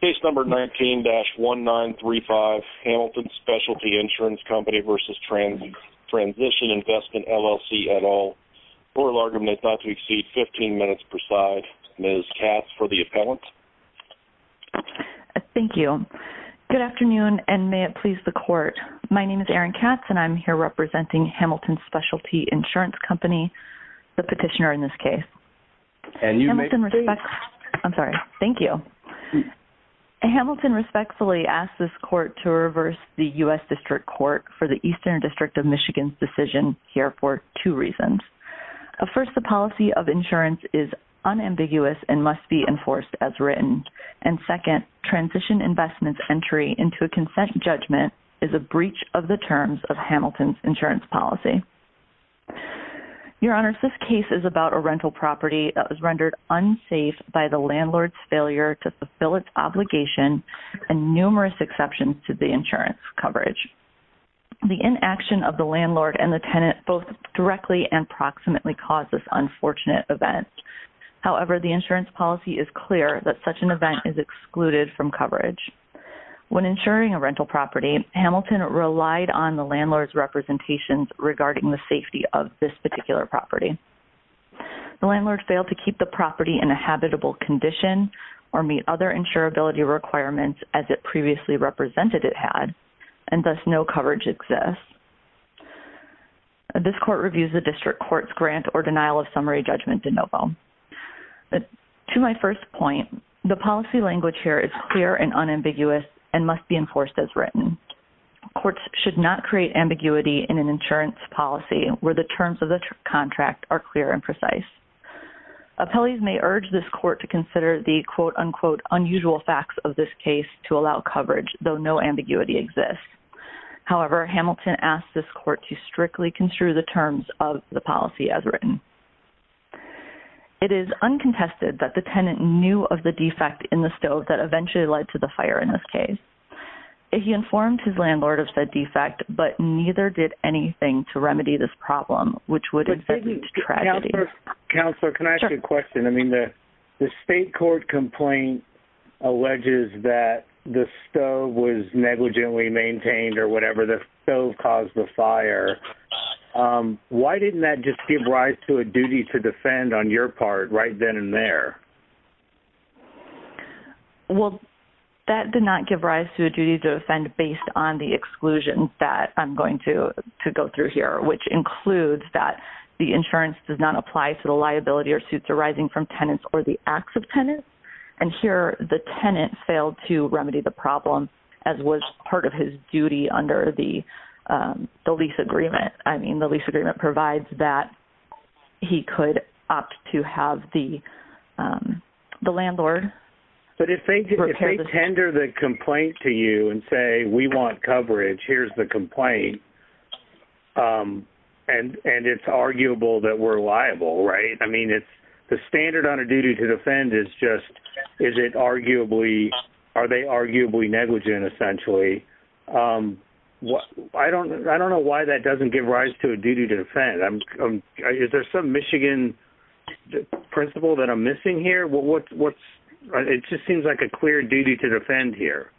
Case No. 19-1935, Hamilton Specialty Insurance Company v. Transition Investment LLC et al. Oral argument is not to exceed 15 minutes per side. Ms. Katz for the appellant. Thank you. Good afternoon, and may it please the Court. My name is Erin Katz, and I'm here representing Hamilton Specialty Insurance Company, the petitioner in this case. Hamilton respectfully asked this Court to reverse the U.S. District Court for the Eastern District of Michigan's decision here for two reasons. First, the policy of insurance is unambiguous and must be enforced as written. And second, transition investment's entry into a consent judgment is a breach of the terms of Hamilton's insurance policy. Your Honors, this case is about a rental property that was rendered unsafe by the landlord's failure to fulfill its obligation and numerous exceptions to the insurance coverage. The inaction of the landlord and the tenant both directly and proximately caused this unfortunate event. However, the insurance policy is clear that such an event is excluded from coverage. When insuring a rental property, Hamilton relied on the landlord's representations regarding the safety of this particular property. The landlord failed to keep the property in a habitable condition or meet other insurability requirements as it previously represented it had, and thus no coverage exists. This Court reviews the District Court's grant or denial of summary judgment de novo. To my first point, the policy language here is clear and unambiguous and must be enforced as written. Courts should not create ambiguity in an insurance policy where the terms of the policy are unambiguous. Appellees may urge this Court to consider the quote-unquote unusual facts of this case to allow coverage, though no ambiguity exists. However, Hamilton asked this Court to strictly construe the terms of the policy as written. It is uncontested that the tenant knew of the defect in the stove that eventually led to the fire in this case. He informed his landlord of said defect, but neither did anything to the fire. The State Court complaint alleges that the stove was negligently maintained or whatever the stove caused the fire. Why didn't that just give rise to a duty to defend on your part right then and there? Well, that did not give rise to a duty to defend based on the exclusion that I'm going to go through here, which includes that the insurance does not apply to the liability or suits arising from tenants or the acts of tenants. And here, the tenant failed to remedy the problem, as was part of his duty under the lease agreement. I mean, the lease agreement provides that he could opt to have the landlord... But if they tender the complaint to you and say, we want coverage, here's the complaint, and it's arguable that we're liable, right? I mean, the standard on a duty to defend is just, are they arguably negligent, essentially? I don't know why that doesn't give rise to a duty to defend. Is there some Michigan principle that I'm missing here? It just seems like a clear duty to defend here.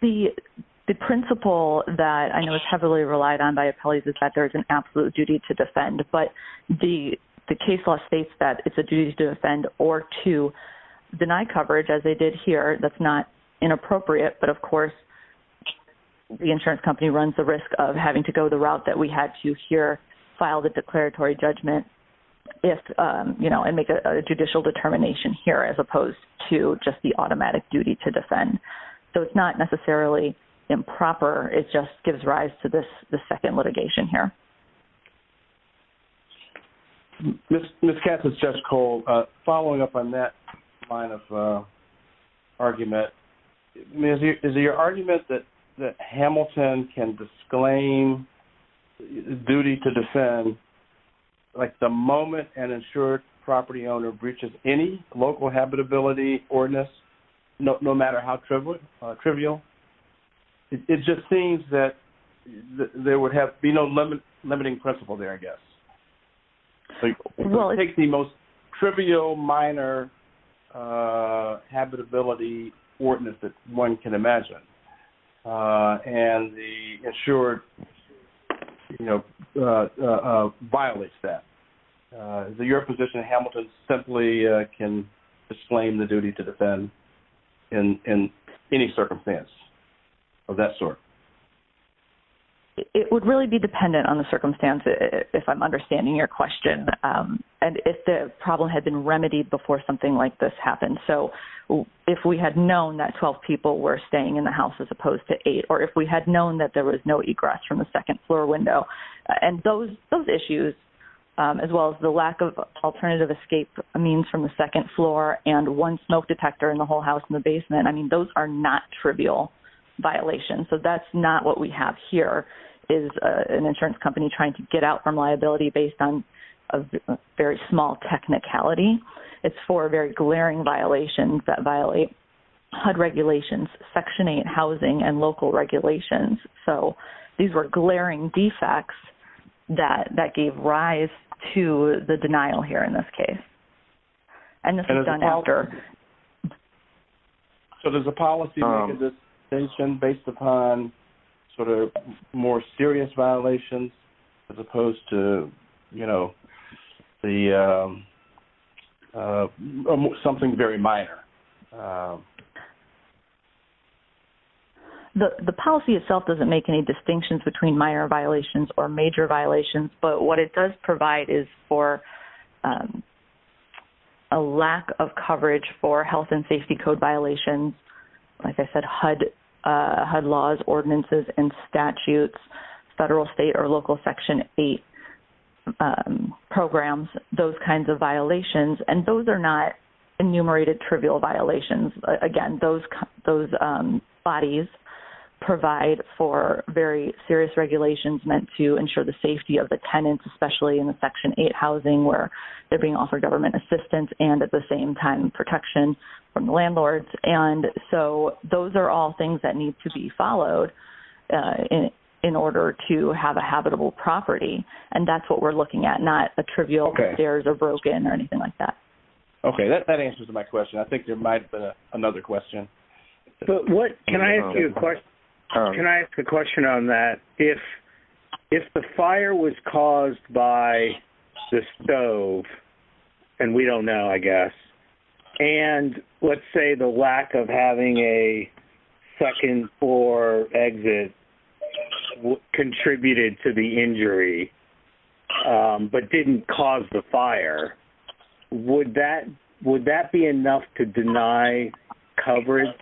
The principle that I know is heavily relied on by appellees is that there is an absolute duty to defend, but the case law states that it's a duty to defend or to deny coverage, as they did here. That's not inappropriate, but of course, the insurance company runs the risk of having to go the route that we had to here, file the declaratory judgment, and make a judicial determination here, as opposed to just the automatic duty to defend. So it's not necessarily improper. It just gives rise to this second litigation here. Ms. Katz, it's just cold. Following up on that line of argument, is it your argument that Hamilton can disclaim duty to defend the moment an insured property owner breaches any local habitability ordinance, no matter how trivial? It just seems that there would be no limiting principle there, I guess. It takes the most trivial, minor habitability ordinance that one can imagine, and the insured violates that. Is it your position Hamilton simply can disclaim the duty to defend in any circumstance of that sort? It would really be dependent on the circumstance, if I'm understanding your question, and if the problem had been remedied before something like this happened. So if we had known that 12 people were staying in the house, as opposed to eight, or if we had known that there was no egress from the second floor window, and those issues, as well as the alternative escape means from the second floor, and one smoke detector in the whole house in the basement, those are not trivial violations. So that's not what we have here, is an insurance company trying to get out from liability based on a very small technicality. It's four very glaring violations that violate HUD regulations, Section 8 housing and local regulations. So these were glaring defects that gave rise to the denial here in this case, and this is done after. So does the policy make a distinction based upon more serious violations, as opposed to something very minor? The policy itself doesn't make any distinctions between minor violations or major violations, but what it does provide is for a lack of coverage for health and safety code violations, like I said, HUD laws, ordinances, and statutes, federal, state, or local Section 8 programs, those kinds of violations, and those are not enumerated trivial violations. Again, those bodies provide for very serious regulations meant to ensure the safety of the tenants, especially in the Section 8 housing, where they're being offered government assistance, and at the same time, protection from the landlords. And so those are all things that we're looking at, not a trivial if theirs are broken or anything like that. Okay. That answers my question. I think there might have been another question. Can I ask a question on that? If the fire was caused by the stove, and we don't know, I guess, and let's say the lack of having a second floor exit contributed to the injury, but didn't cause the fire, would that be enough to deny coverage?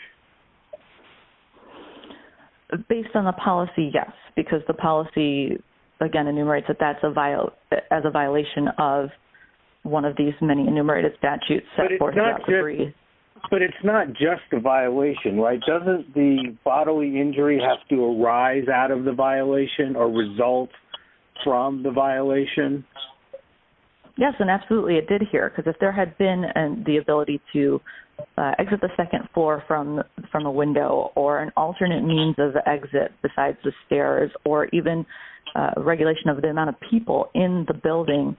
Based on the policy, yes, because the policy, again, enumerates it as a violation of one of these many enumerated statutes. But it's not just a violation, right? Doesn't the bodily injury have to arise out of the violation or result from the violation? Yes, and absolutely, it did here, because if there had been the ability to exit the second floor from a window, or an alternate means of exit besides the stairs, or even regulation of the amount of people in the building,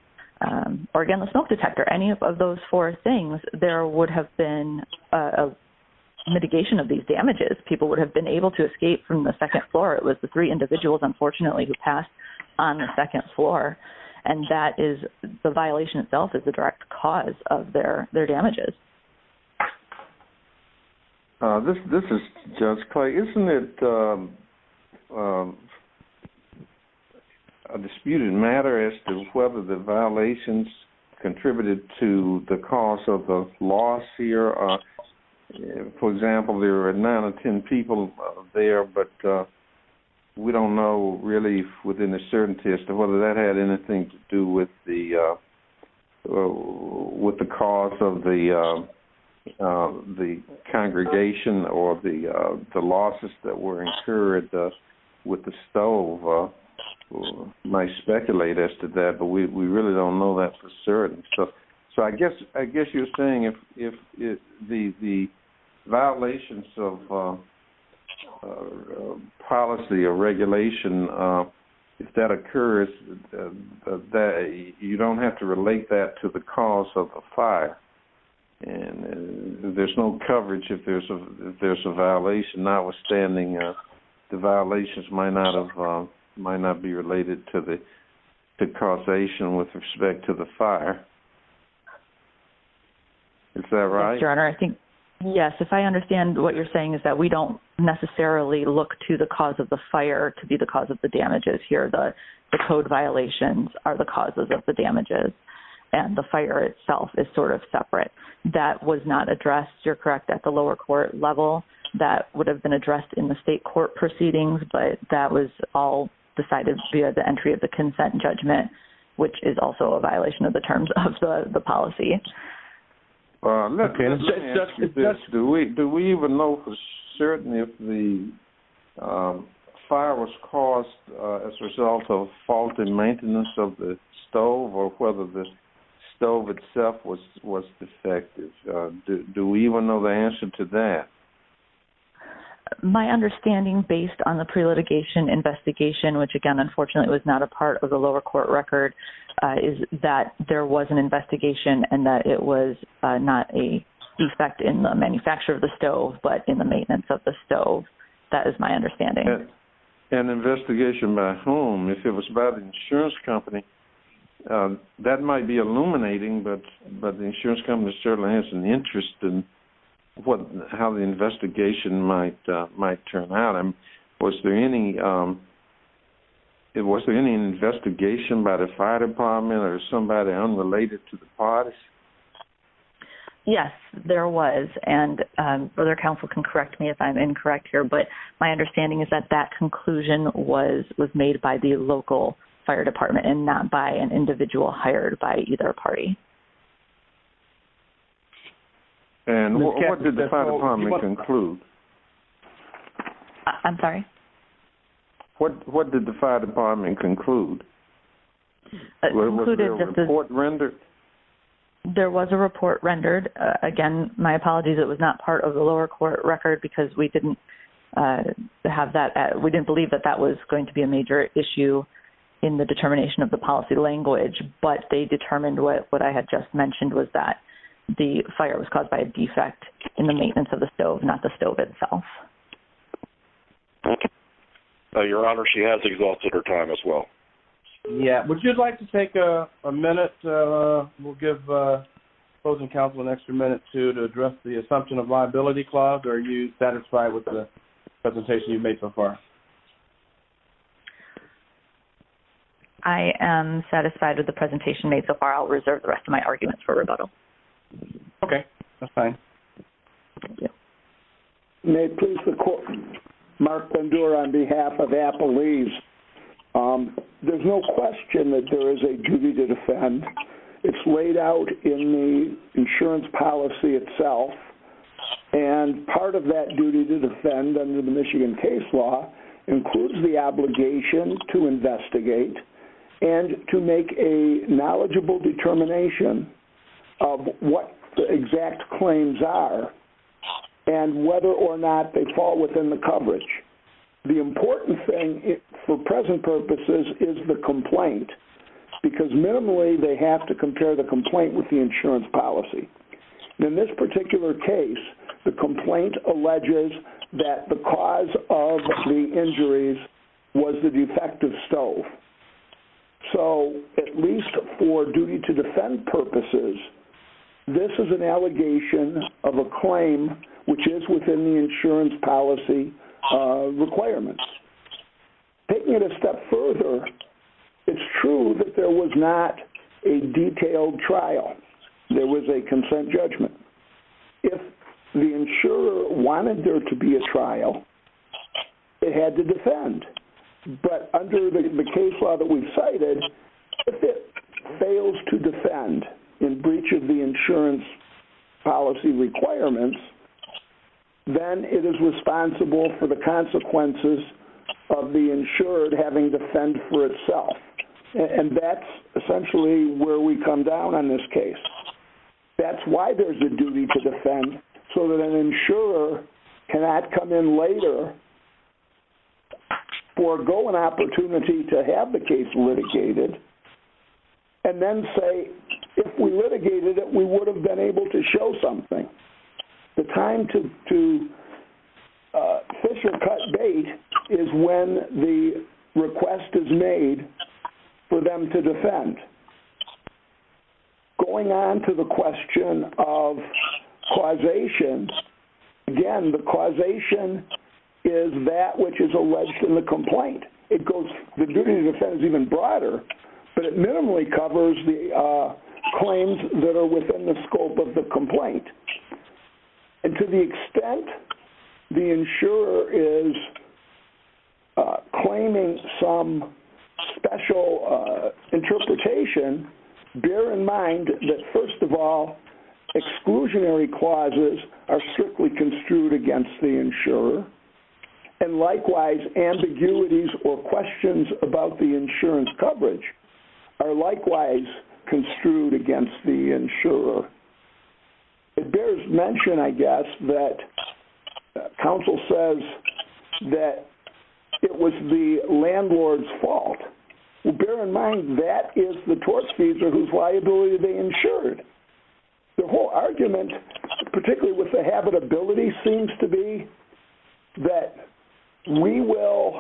or again, the smoke detector, any of those four things, there would have been a mitigation of these damages. People would have been able to escape from the second floor. It was the three individuals, unfortunately, who passed on the second floor. And that is the violation itself is the direct cause of their damages. This is Judge Clay. Isn't it a disputed matter as to whether the violations contributed to the cause of the loss here? For example, there are nine or ten people there, but we don't know really within a certainty as to whether that had anything to do with the with the cause of the congregation or the losses that were incurred with the stove. Might speculate as to that, but we really don't know that for certain. So I guess you're saying if the violations of policy or regulation, if that occurs, you don't have to relate that to the cause of the fire. And there's no coverage if there's a violation, notwithstanding the violations might not be related to the causation with respect to the fire. Is that right? Your Honor, I think, yes, if I understand what you're saying is that we don't necessarily look to the cause of the fire to be the cause of the damages here. The code violations are the causes of the damages and the fire itself is sort of separate. That was not addressed, you're correct, at the lower court level. That would have been addressed in the state court proceedings, but that was all decided via the entry of the consent judgment, which is also a violation of the terms of the policy. Let me ask you this. Do we even know for certain if the fire was caused as a result of faulty maintenance of the stove or whether the stove itself was defective? Do we even know the answer to that? My understanding based on the pre-litigation investigation, which again, unfortunately, was not a part of the lower court record, is that there was an investigation and that it was not a defect in the manufacture of the stove, but in the maintenance of the stove. That is my understanding. An investigation by whom? If it was by the insurance company, that might be illuminating, but the insurance company certainly has an interest in how the investigation might turn out. Was there any investigation by the fire department or somebody unrelated to the parties? Yes, there was. The other counsel can correct me if I'm incorrect here, but my understanding is that that conclusion was made by the local fire department and not by an individual hired by either party. What did the fire department conclude? I'm sorry? What did the fire department conclude? Was there a report rendered? There was a report rendered. Again, my apologies, it was not part of the lower court record because we didn't believe that that was going to be a major issue in the determination of the policy language, but they determined what I had just mentioned was that the fire was caused by a defect in the maintenance of the stove, not the stove itself. Okay. Your Honor, she has exhausted her time as well. Yeah. Would you like to take a minute? We'll give the opposing counsel an extra minute to address the assumption of liability clause. Are you satisfied with the presentation you've made so far? I am satisfied with the presentation made so far. I'll reserve the rest of my arguments for rebuttal. Okay, that's fine. Thank you. May it please the court, Mark Bendure on behalf of Apple Lease. There's no question that there is a duty to defend. It's laid out in the insurance policy itself, and part of that duty to defend under the Michigan case law includes the obligation to investigate and to make a determination whether or not they fall within the coverage. The important thing for present purposes is the complaint because minimally they have to compare the complaint with the insurance policy. In this particular case, the complaint alleges that the cause of the injuries was the insurance policy requirements. Taking it a step further, it's true that there was not a detailed trial. There was a consent judgment. If the insurer wanted there to be a trial, they had to defend. But under the case law that we cited, if it fails to defend in breach of the then it is responsible for the consequences of the insured having to defend for itself. And that's essentially where we come down on this case. That's why there's a duty to defend so that an insurer cannot come in later, forgo an opportunity to have the case litigated, and then say if we litigated it, we would have been able to show something. The time to fish or cut bait is when the request is made for them to defend. Going on to the question of causation, again, the causation is that which is alleged in the complaint. The duty to defend is even broader, but it minimally covers the claims that are within the scope of the complaint. And to the extent the insurer is claiming some special interpretation, bear in mind that, first of all, exclusionary clauses are strictly construed against the insurer. And likewise, ambiguities or questions about the insurance coverage are likewise construed against the insurer. It bears mention, I guess, that counsel says that it was the landlord's fault. Well, bear in mind that is the tortfeasor whose liability they insured. The whole argument, particularly with the habitability, seems to be that we will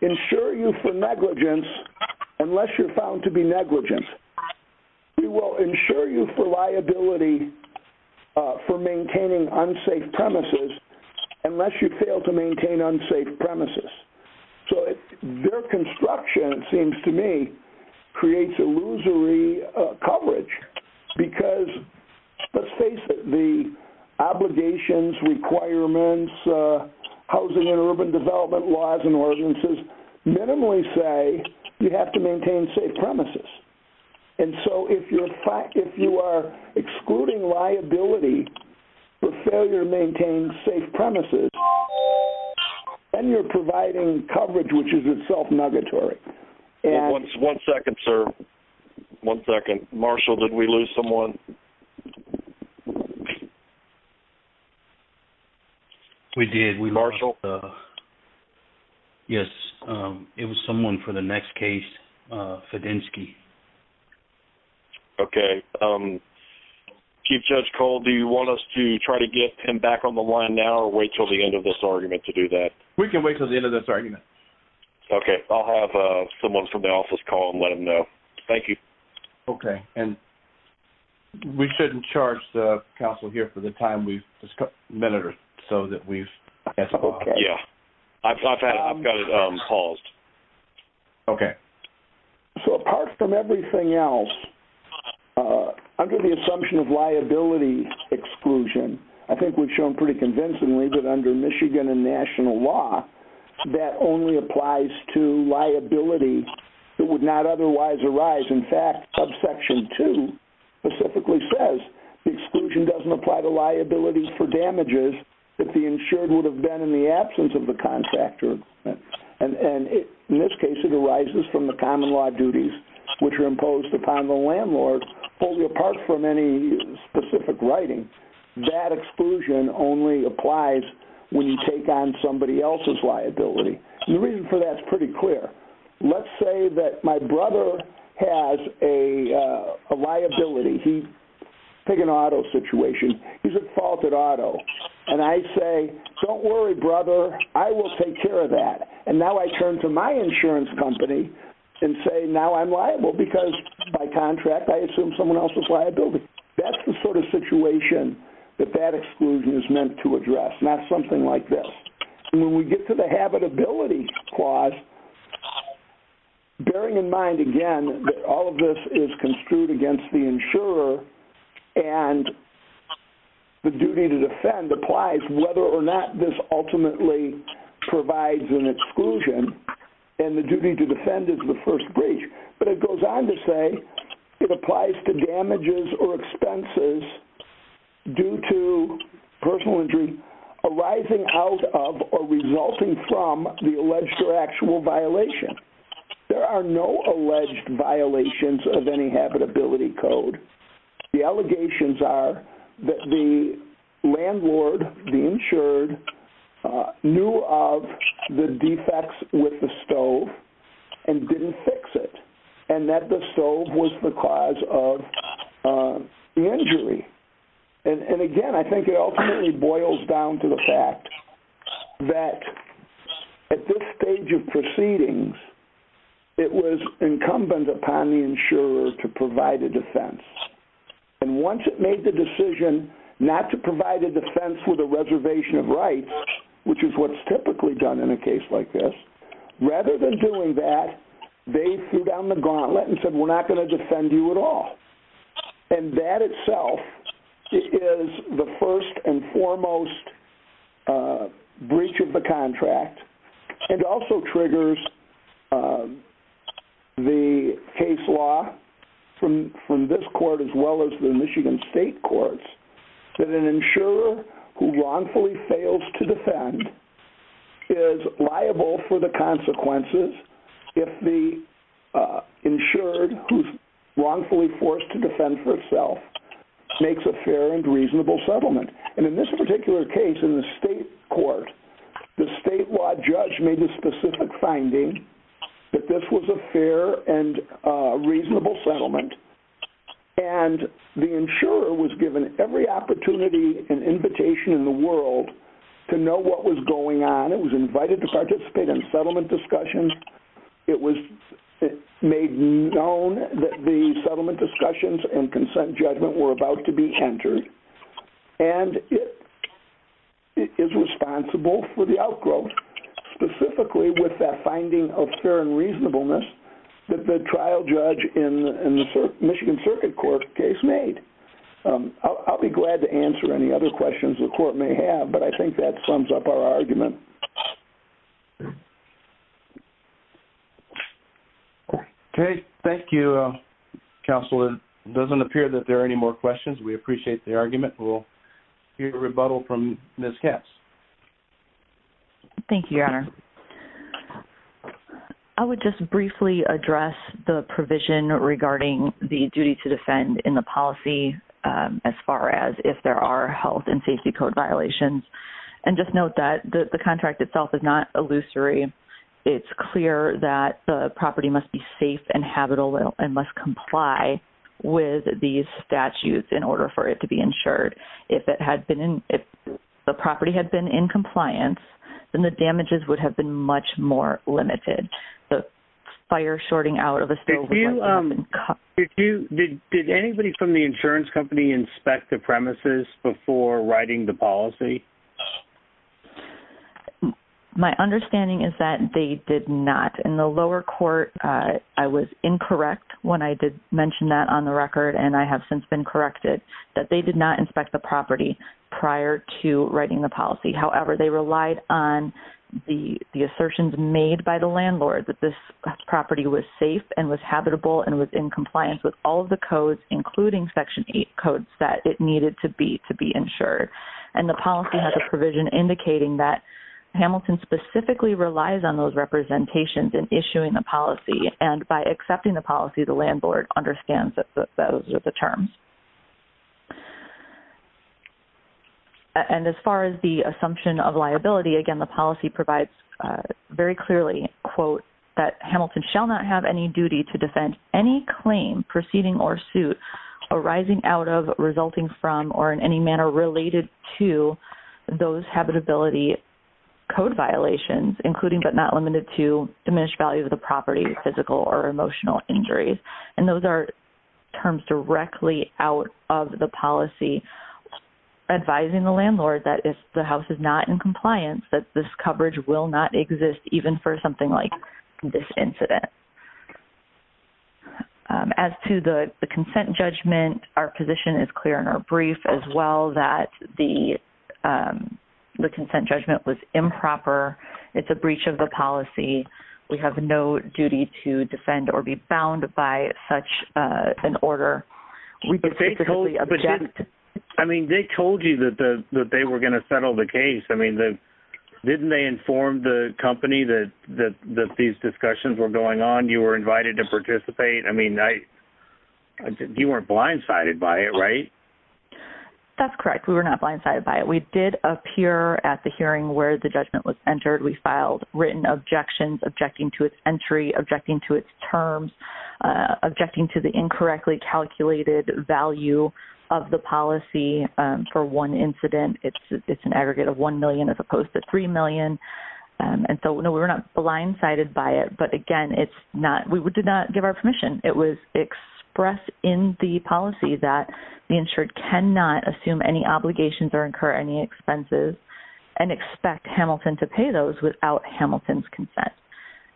insure you for negligence unless you're found to be negligent. We will insure you for liability for maintaining unsafe premises unless you fail to maintain unsafe premises. So their construction, it seems to me, creates illusory coverage because, let's face it, the minimally say you have to maintain safe premises. And so if you are excluding liability for failure to maintain safe premises, then you're providing coverage which is itself negatory. One second, sir. One second. Marshall, did we lose someone? We did. We lost Marshall. Yes, it was someone for the next case, Fedenski. Okay. Chief Judge Cole, do you want us to try to get him back on the line now or wait till the end of this argument to do that? We can wait till the end of this argument. Okay. I'll have someone from the office call and let him know. Thank you. Okay. And we shouldn't charge the counsel here for the time. We've just got a minute or so that we've... Okay. Yeah. I've got it paused. Okay. So apart from everything else, under the assumption of liability exclusion, I think we've shown pretty convincingly that under Michigan and national law, that only applies to liability that would not otherwise arise. In subsection two, specifically says the exclusion doesn't apply to liability for damages that the insured would have been in the absence of the contractor. And in this case, it arises from the common law duties which are imposed upon the landlord only apart from any specific writing. That exclusion only applies when you take on somebody else's liability. The reason for that is pretty clear. Let's say that my brother has a liability. Take an auto situation. He's at fault at auto. And I say, don't worry, brother. I will take care of that. And now I turn to my insurance company and say, now I'm liable because by contract, I assume someone else's liability. That's the sort of situation that that exclusion is meant to address, not something like this. And when we get to the habitability clause, bearing in mind, again, that all of this is construed against the insurer and the duty to defend applies whether or not this ultimately provides an exclusion. And the duty to defend is the first breach. But it goes on to say it applies to damages or expenses due to personal injury arising out of or resulting from the alleged or actual violation. There are no alleged violations of any habitability code. The allegations are that the landlord, the insured, knew of the defects with the stove and didn't fix it. And that the stove was the cause of the injury. And again, I think it ultimately boils down to the fact that at this stage of proceedings, it was incumbent upon the insurer to provide a defense. And once it made the decision not to provide a defense with a that, they threw down the gauntlet and said, we're not going to defend you at all. And that itself is the first and foremost breach of the contract and also triggers the case law from this court as well as the Michigan State courts that an insurer who the consequences if the insured who's wrongfully forced to defend for itself makes a fair and reasonable settlement. And in this particular case in the state court, the statewide judge made a specific finding that this was a fair and reasonable settlement. And the insurer was given every opportunity and invitation in the world to know what was going on. It was invited to participate in settlement discussions. It was made known that the settlement discussions and consent judgment were about to be entered. And it is responsible for the outgrowth, specifically with that finding of fair and reasonableness that the trial judge in the Michigan Circuit Court case made. I'll be glad to answer any other questions the court may have, but I think that sums up our argument. Okay. Thank you, Counselor. It doesn't appear that there are any more questions. We appreciate the argument. We'll hear a rebuttal from Ms. Katz. Thank you, Your Honor. I would just briefly address the provision regarding the duty to just note that the contract itself is not illusory. It's clear that the property must be safe and habitable and must comply with these statutes in order for it to be insured. If the property had been in compliance, then the damages would have been much more limited. The fire shorting out of the state... Did anybody from the insurance company inspect the premises before writing the policy? My understanding is that they did not. In the lower court, I was incorrect when I did mention that on the record, and I have since been corrected, that they did not inspect the property prior to writing the policy. However, they relied on the assertions made by the landlord that this property was safe and was habitable and was in compliance with all of the codes, including Section 8 codes, that it needed to be insured. And the policy has a provision indicating that Hamilton specifically relies on those representations in issuing the policy, and by accepting the policy, the landlord understands that those are the terms. And as far as the assumption of liability, again, the policy provides very clearly, quote, that Hamilton shall not have any duty to defend any claim proceeding or suit arising out of, resulting from, or in any manner related to those habitability code violations, including but not limited to diminished value of the property, physical or emotional injuries. And those are terms directly out of the policy advising the landlord that if the house is not in compliance, that this coverage will not exist, even for something like this incident. As to the consent judgment, our position is clear in our brief, as well, that the consent judgment was improper. It's a breach of the policy. We have no duty to defend or be bound by such an order. I mean, they told you that they were going to settle the case. I mean, didn't they inform the company that these discussions were going on, you were invited to participate? I mean, you weren't blindsided by it, right? That's correct. We were not blindsided by it. We did appear at the hearing where the judgment was entered. We filed written objections, objecting to its entry, objecting to its terms, objecting to the incorrectly calculated value of the policy for one incident. It's an aggregate of $1 million as opposed to $3 million. And so, no, we were not blindsided by it. But again, it's not, we did not give our permission. It was expressed in the policy that the insured cannot assume any obligations or incur any expenses and expect Hamilton to pay those without Hamilton's consent.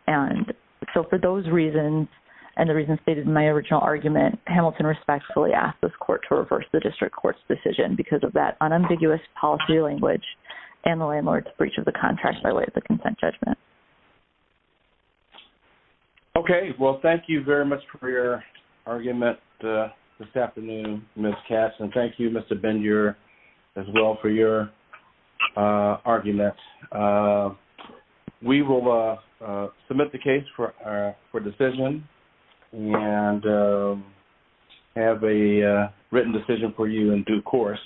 And so, for those reasons, and the reasons stated in my original argument, Hamilton respectfully asked this court to reverse the district court's decision because of that unambiguous policy language and the landlord's breach of the contract by way of the consent judgment. Okay. Well, thank you very much for your argument this afternoon, Ms. Katz. And thank you, Mr. Bendure, as well, for your argument. We will submit the case for decision and have a written decision for you in due course.